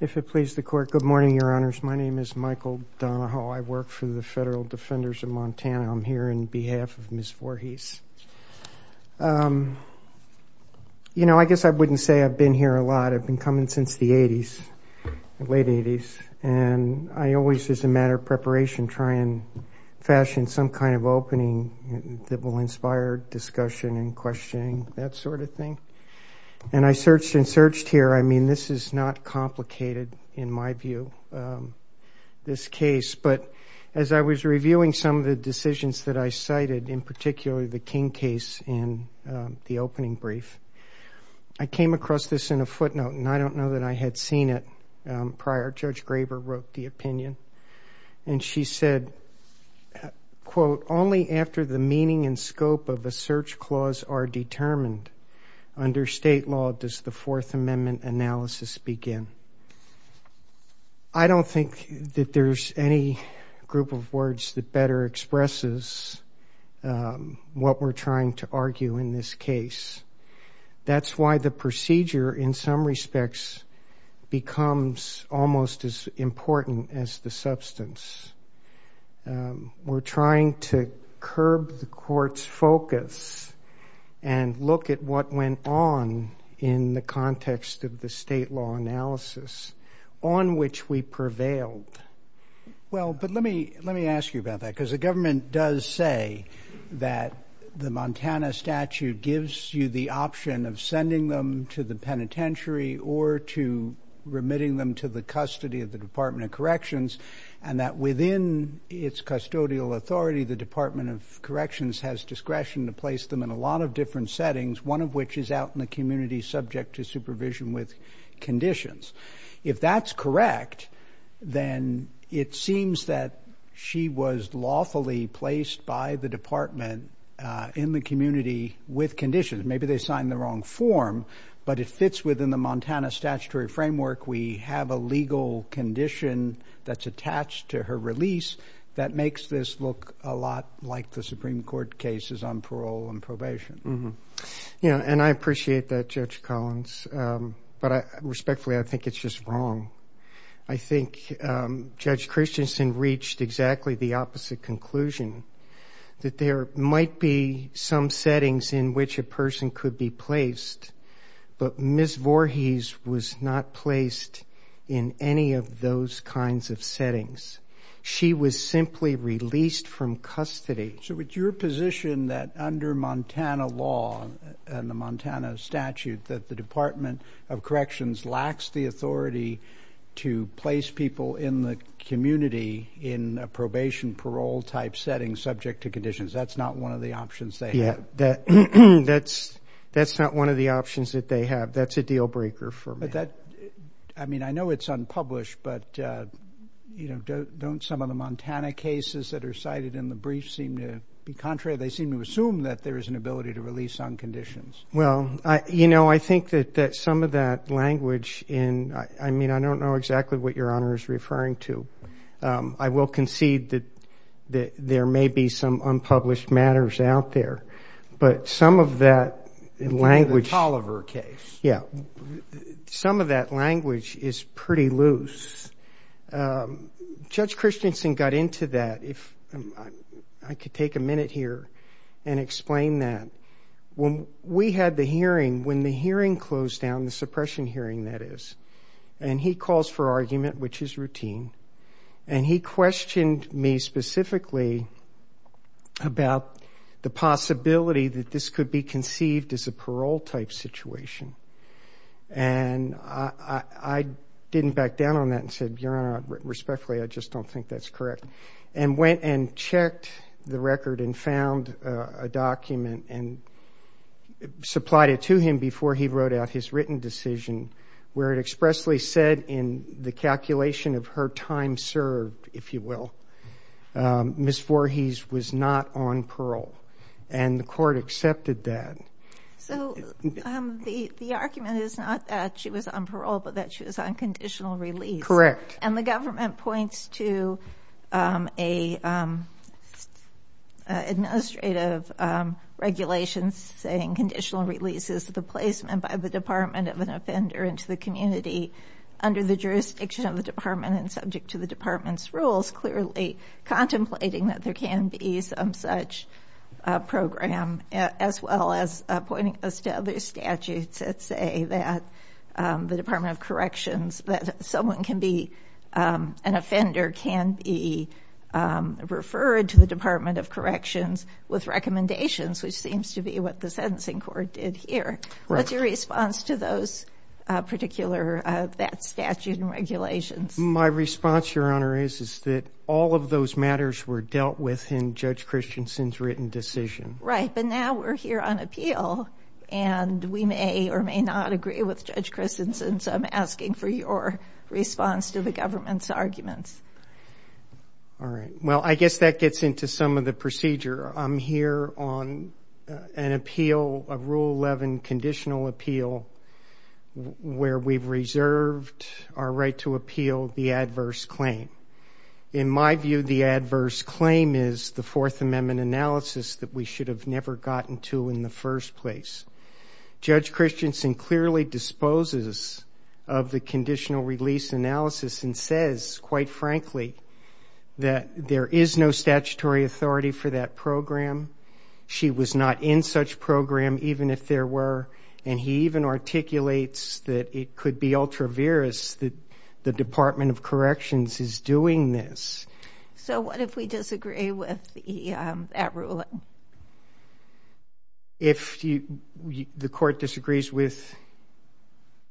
If it pleases the Court, good morning, Your Honors. My name is Michael Donahoe. I work for the Federal Defenders of Montana. I'm here on behalf of Ms. Voorhies. You know, I guess I wouldn't say I've been here a lot. I've been coming since the 80s, late 80s, and I always, as a matter of preparation, try and fashion some kind of opening that will inspire discussion and questioning, that sort of thing. And I searched and searched here. I mean, this is not complicated, in my view, this case. But as I was reviewing some of the decisions that I cited, in particular the King case in the opening brief, I came across this in a footnote. And I don't know that I had seen it prior. Judge Graber wrote the opinion. And she said, quote, only after the meaning and scope of a search clause are determined under state law does the Fourth Amendment analysis begin. I don't think that there's any group of words that better expresses what we're trying to argue in this case. That's why the procedure, in some respects, becomes almost as important as the substance. We're trying to curb the court's focus and look at what went on in the context of the state law analysis, on which we prevailed. Well, but let me ask you about that. Because the government does say that the Montana statute gives you the option of sending them to the penitentiary or to remitting them to the custody of the Department of Corrections, and that within its custodial authority, the Department of Corrections has discretion to place them in a lot of different settings, one of which is out in the community subject to supervision with conditions. If that's correct, then it seems that she was lawfully placed by the department in the community with conditions. Maybe they signed the wrong form, but it fits within the Montana statutory framework. We have a legal condition that's attached to her release that makes this look a lot like the Supreme Court cases on parole and probation. Mm-hmm. Yeah, and I appreciate that, Judge Collins, but respectfully, I think it's just wrong. I think Judge Christensen reached exactly the opposite conclusion, that there might be some settings in which a person could be placed, but Ms. Voorhees was not placed in any of those kinds of settings. She was simply released from custody. So it's your position that under Montana law and the Montana statute that the Department of Corrections lacks the authority to place people in the community in a probation parole-type setting subject to conditions. That's not one of the options they have. That's not one of the options that they have. That's a deal-breaker for me. I mean, I know it's unpublished, but don't some of the Montana cases that are cited in the brief seem to be contrary? They seem to assume that there is an ability to release on conditions. Well, you know, I think that some of that language in... I mean, I don't know exactly what Your Honor is referring to. I will concede that there may be some unpublished matters out there, but some of that language... In the Tolliver case. Yeah. Some of that language is pretty loose. Judge Christensen got into that. If I could take a minute here and explain that. When we had the hearing, when the hearing closed down, the suppression hearing, that is, and he calls for argument, which is routine, and he questioned me specifically about the possibility that this could be conceived as a parole-type situation. And I didn't back down on that and said, Your Honor, respectfully, I just don't think that's correct. And went and checked the record and found a document and supplied it to him before he wrote out his written decision where it expressly said in the calculation of her time served, if you will, Ms. Voorhees was not on parole. And the court accepted that. So the argument is not that she was on parole, but that she was on conditional release. Correct. And the government points to an administrative regulation saying conditional release is the placement by the Department of an offender into the community under the jurisdiction of the department and subject to the department's rules, clearly contemplating that there can be some such program, as well as pointing us to other statutes that say that the Department of Corrections, that someone can be, an offender can be referred to the Department of Corrections with recommendations, which seems to be what the sentencing court did here. What's your response to those particular, that statute and regulations? My response, Your Honor, is that all of those matters were dealt with in Judge Christensen's written decision. Right, but now we're here on appeal and we may or may not agree with Judge Christensen. So I'm asking for your response to the government's arguments. All right. Well, I guess that gets into some of the procedure. I'm here on an appeal, a Rule 11 conditional appeal, where we've reserved our right to appeal the adverse claim. In my view, the adverse claim is the Fourth Amendment analysis that we should have never gotten to in the first place. Judge Christensen clearly disposes of the conditional release analysis and says, quite frankly, that there is no statutory authority for that program. She was not in such program, even if there were. And he even articulates that it could be ultra-virus that the Department of Corrections is doing this. So what if we disagree with that ruling? If the court disagrees with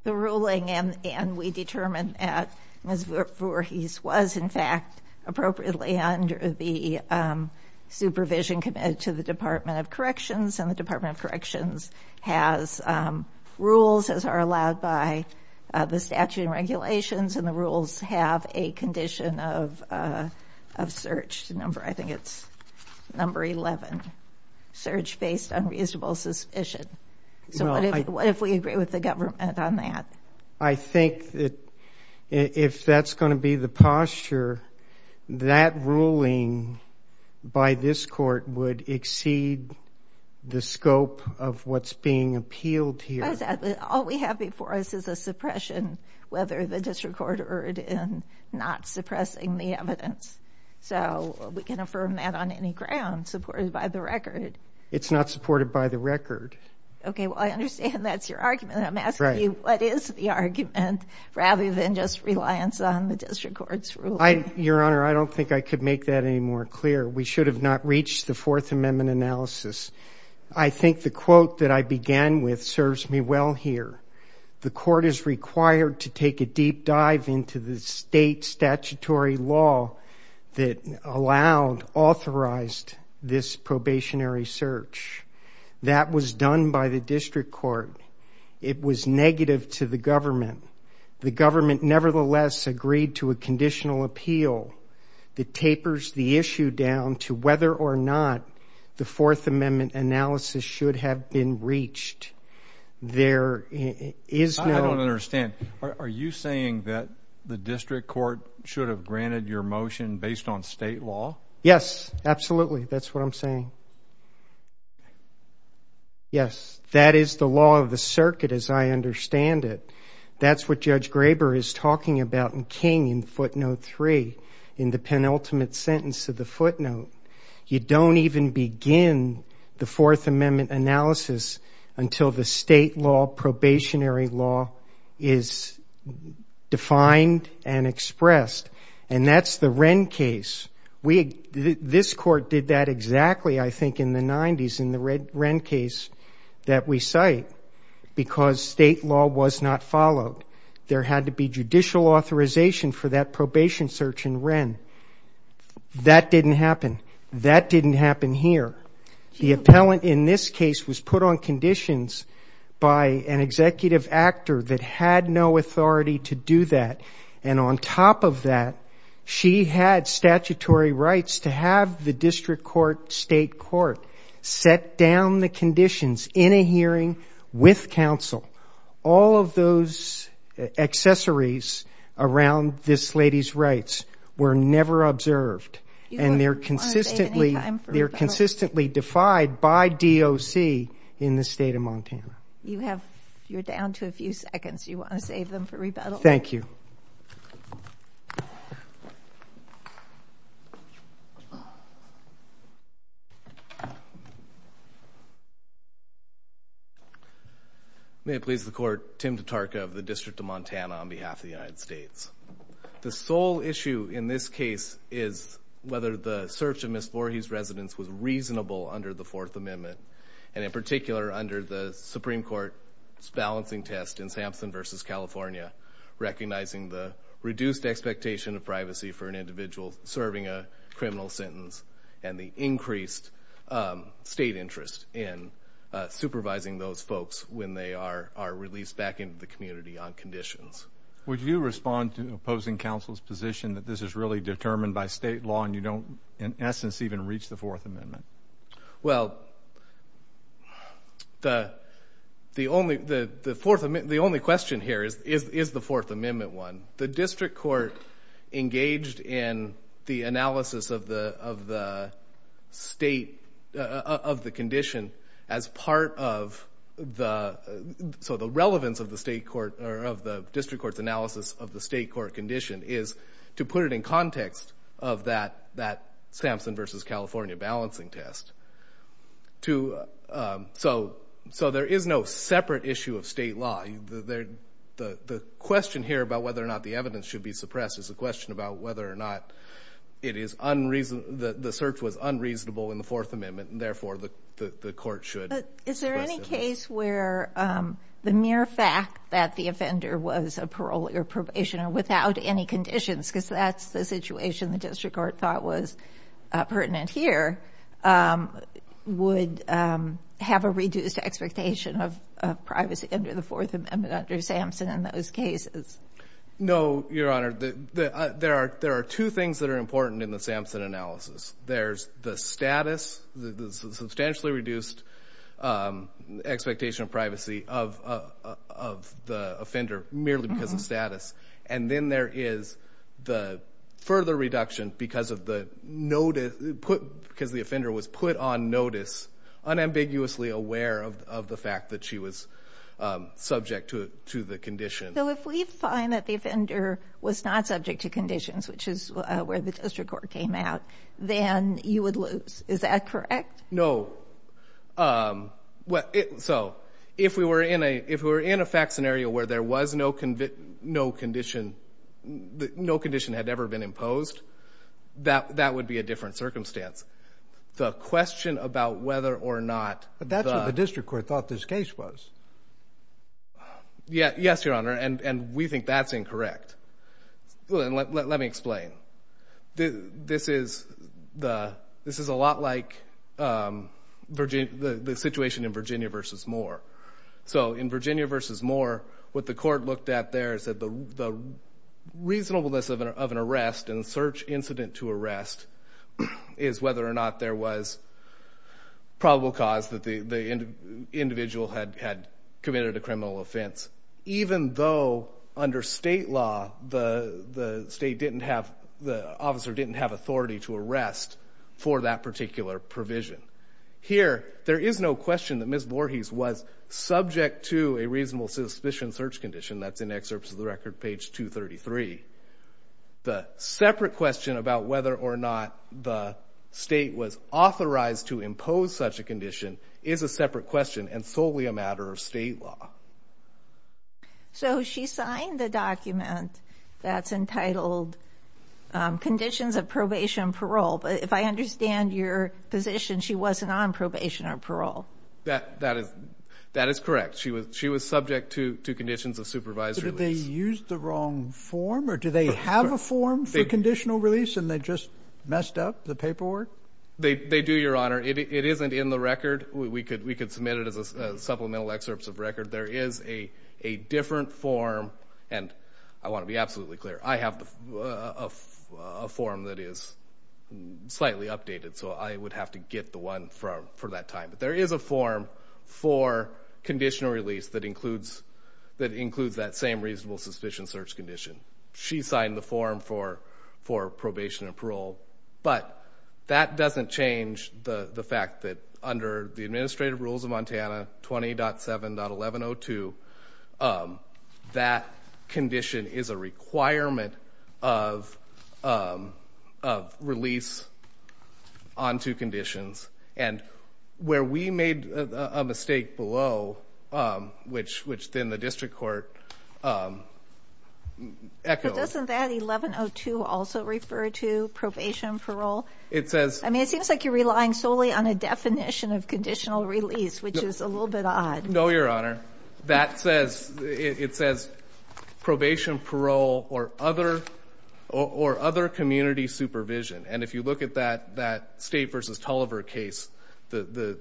the ruling and we determine that Ms. Voorhees was, in fact, appropriately under the supervision committed to the Department of Corrections, and the Department of Corrections has rules as are allowed by the statute and regulations, and the rules have a condition of search. I think it's number 11, search based on reasonable suspicion. So what if we agree with the government on that? I think that if that's going to be the posture, that ruling by this court would exceed the scope of what's being appealed here. All we have before us is a suppression, whether the district court erred in not suppressing the evidence. So we can affirm that on any ground supported by the record. It's not supported by the record. OK, well, I understand that's your argument. And I'm asking you, what is the argument, rather than just reliance on the district court's ruling? Your Honor, I don't think I could make that any more clear. We should have not reached the Fourth Amendment analysis. I think the quote that I began with serves me well here. The court is required to take a deep dive into the state statutory law that allowed, authorized this probationary search. That was done by the district court. It was negative to the government. The government, nevertheless, agreed to a conditional appeal that tapers the issue down to whether or not the Fourth Amendment analysis should have been reached. There is no- I don't understand. Are you saying that the district court should have granted your motion based on state law? Yes, absolutely. That's what I'm saying. Yes, that is the law of the circuit, as I understand it. That's what Judge Graber is talking about in King in footnote three, in the penultimate sentence of the footnote. You don't even begin the Fourth Amendment analysis until the state law, probationary law, is defined and expressed. And that's the Wren case. This court did that exactly. I think in the 90s in the Wren case that we cite because state law was not followed. There had to be judicial authorization for that probation search in Wren. That didn't happen. That didn't happen here. The appellant in this case was put on conditions by an executive actor that had no authority to do that. And on top of that, she had statutory rights to have the district court, state court, set down the conditions in a hearing with counsel. All of those accessories around this lady's rights were never observed. And they're consistently defied by DOC in the state of Montana. You're down to a few seconds. You want to save them for rebuttal? Thank you. Thank you. May it please the court. Tim Tatarka of the District of Montana on behalf of the United States. The sole issue in this case is whether the search of Ms. Voorhees' residence was reasonable under the Fourth Amendment. And in particular, under the Supreme Court's balancing test in Sampson versus California, recognizing the reduced expectation of privacy for an individual serving a criminal sentence and the increased state interest in supervising those folks when they are released back into the community on conditions. Would you respond to opposing counsel's position that this is really determined by state law and you don't, in essence, even reach the Fourth Amendment? Well, the only question here is, is the Fourth Amendment one? The district court engaged in the analysis of the state of the condition as part of the relevance of the district court's analysis of the state court condition is to put it in context of that Sampson versus California balancing test. So there is no separate issue of state law. The question here about whether or not the evidence should be suppressed is a question about whether or not it is unreasonable, that the search was unreasonable in the Fourth Amendment and therefore the court should suppress it. Is there any case where the mere fact that the offender was a parole or probationer without any conditions, because that's the situation the district court thought was pertinent here, would have a reduced expectation of privacy under the Fourth Amendment under Sampson in those cases? No, Your Honor. There are two things that are important in the Sampson analysis. There's the status, the substantially reduced expectation of privacy of the offender merely because of status. And then there is the further reduction because the offender was put on notice unambiguously aware of the fact that she was subject to the condition. So if we find that the offender was not subject to conditions, which is where the district court came out, then you would lose. Is that correct? No. So if we were in a fact scenario where there was no condition had ever been imposed, that would be a different circumstance. The question about whether or not the district court thought this case was. Yes, Your Honor. And we think that's incorrect. Let me explain. This is a lot like the situation in Virginia versus Moore. So in Virginia versus Moore, what the court looked at there is that the reasonableness of an arrest and search incident to arrest is whether or not there was probable cause that the individual had committed a criminal offense, even though under state law, the state didn't have, the officer didn't have authority to arrest for that particular provision. Here, there is no question that Ms. Voorhees was subject to a reasonable suspicion search condition. That's in excerpts of the record, page 233. The separate question about whether or not the state was authorized to impose such a condition is a separate question and solely a matter of state law. So she signed the document that's entitled Conditions of Probation and Parole. But if I understand your position, she wasn't on probation or parole. That is correct. She was subject to conditions of supervised release. Did they use the wrong form, or do they have a form for conditional release and they just messed up the paperwork? They do, Your Honor. It isn't in the record. We could submit it as a supplemental excerpts of record. There is a different form, and I want to be absolutely clear. I have a form that is slightly updated, so I would have to get the one for that time. But there is a form for conditional release that includes that same reasonable suspicion search condition. She signed the form for probation and parole. But that doesn't change the fact that under the administrative rules of Montana, 20.7.1102, that condition is a requirement of release onto conditions. And where we made a mistake below, which then the district court echoed. But doesn't that 11.02 also refer to probation and parole? It says. I mean, it seems like you're relying solely on a definition of conditional release, which is a little bit odd. No, Your Honor. That says, it says probation, parole, or other community supervision. And if you look at that State versus Tulliver case, the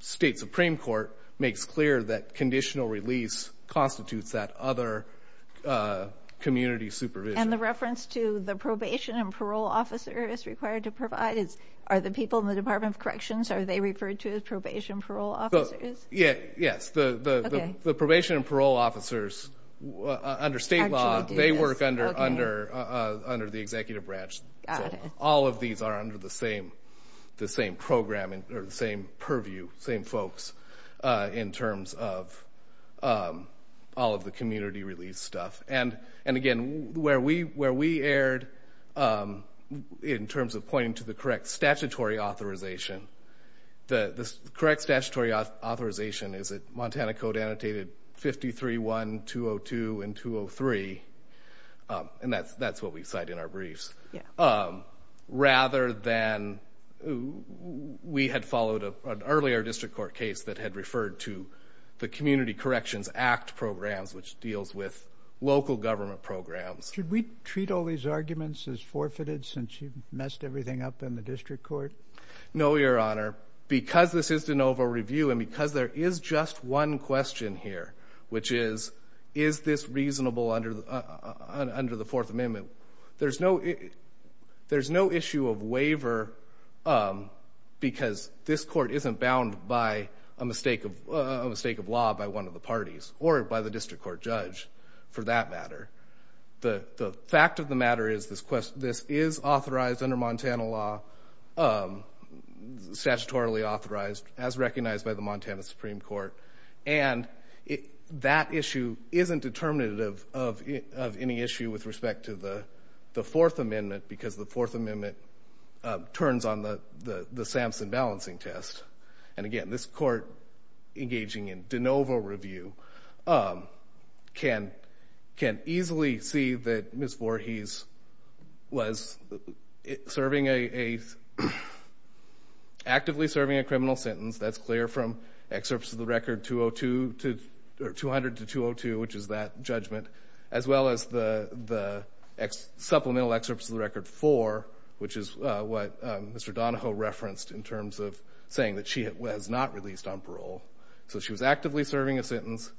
state Supreme Court makes clear that conditional release constitutes that other community supervision. And the reference to the probation and parole officer is required to provide is, are the people in the Department of Corrections, are they referred to as probation and parole officers? Yes. The probation and parole officers, under state law, they work under the executive branch. All of these are under the same program, or the same purview, same folks, in terms of all of the community release stuff. And again, where we erred in terms of pointing to the correct statutory authorization, the correct statutory authorization is that Montana Code annotated 53-1, 202, and 203. And that's what we cite in our briefs. Rather than, we had followed an earlier district court case that had referred to the Community Corrections Act programs, which deals with local government programs. Should we treat all these arguments as forfeited, since you've messed everything up in the district court? No, Your Honor. Because this is de novo review, and because there is just one question here, which is, is this reasonable under the Fourth Amendment? There's no issue of waiver, because this court isn't bound by a mistake of law by one of the parties, or by the district court judge, for that matter. The fact of the matter is, this is authorized under Montana law, statutorily authorized, as recognized by the Montana Supreme Court. And that issue isn't determinative of any issue with respect to the Fourth Amendment, because the Fourth Amendment turns on the Sampson balancing test. And again, this court engaging in de novo review can easily see that Ms. Voorhees was actively serving a criminal sentence. That's clear from excerpts of the record 200 to 202, which is that judgment, as well as the supplemental excerpts of the record 4, which is what Mr. Donahoe referenced in terms of saying that she was not released on parole. So she was actively serving a sentence.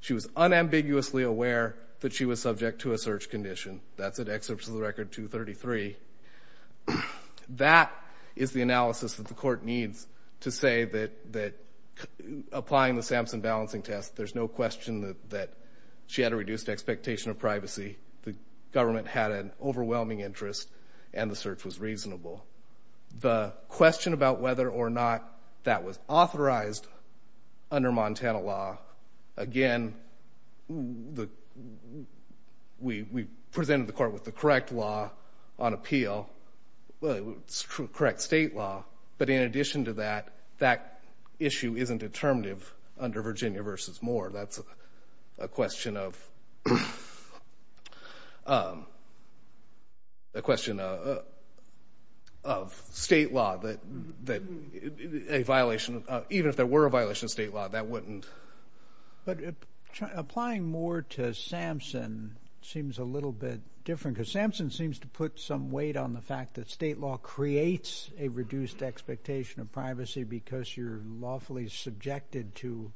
She was unambiguously aware that she was subject to a search condition. That's in excerpts of the record 233. That is the analysis that the court needs to say that applying the Sampson balancing test, there's no question that she had a reduced expectation of privacy. The government had an overwhelming interest, and the search was reasonable. The question about whether or not that was authorized under Montana law, again, we presented the court with the correct law on appeal, correct state law. But in addition to that, that issue isn't determinative under Virginia versus Moore. That's a question of state law, that a violation, even if there were a violation of state law, that wouldn't. But applying Moore to Sampson seems a little bit different. Because Sampson seems to put some weight on the fact that state law creates a reduced expectation of privacy because you're lawfully subjected to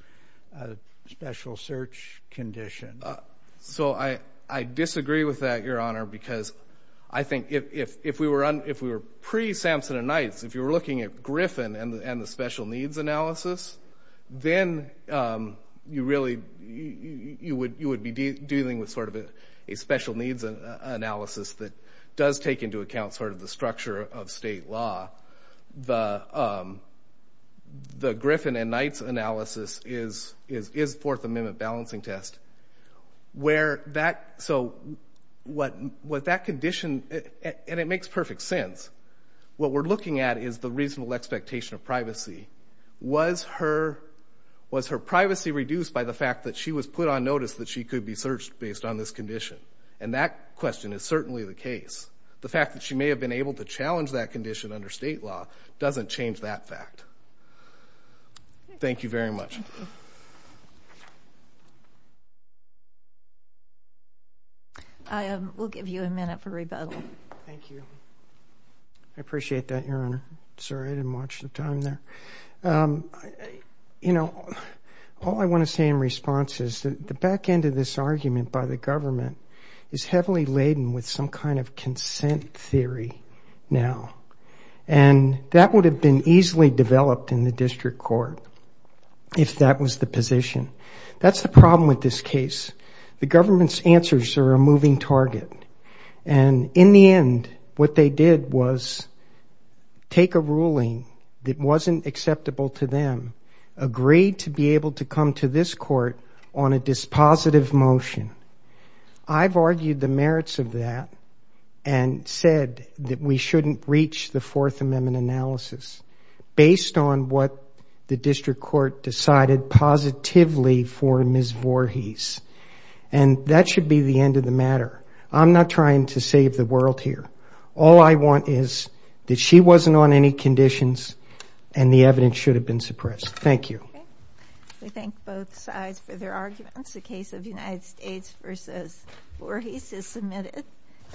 a special search condition. So I disagree with that, Your Honor, because I think if we were pre-Sampson and Knights, if you were looking at Griffin and the special needs analysis, then you would be dealing with a special needs analysis that does take into account sort of the structure of state law. The Griffin and Knights analysis is Fourth Amendment balancing test, where that condition, and it makes perfect sense, what we're looking at is the reasonable expectation of privacy. Was her privacy reduced by the fact that she was put on notice that she could be searched based on this condition? And that question is certainly the case. The fact that she may have been able to challenge that condition under state law doesn't change that fact. Thank you very much. We'll give you a minute for rebuttal. Thank you. I appreciate that, Your Honor. Sorry, I didn't watch the time there. You know, all I want to say in response is that the back end of this argument by the government is heavily laden with some kind of consent theory now. And that would have been easily developed in the district court if that was the position. That's the problem with this case. The government's answers are a moving target. And in the end, what they did was take a ruling that wasn't acceptable to them, agreed to be able to come to this court on a dispositive motion. I've argued the merits of that and said that we shouldn't reach the Fourth Amendment analysis based on what the district court decided positively for Ms. Voorhees. And that should be the end of the matter. I'm not trying to save the world here. All I want is that she wasn't on any conditions and the evidence should have been suppressed. Thank you. We thank both sides for their arguments. The case of United States versus Voorhees is submitted.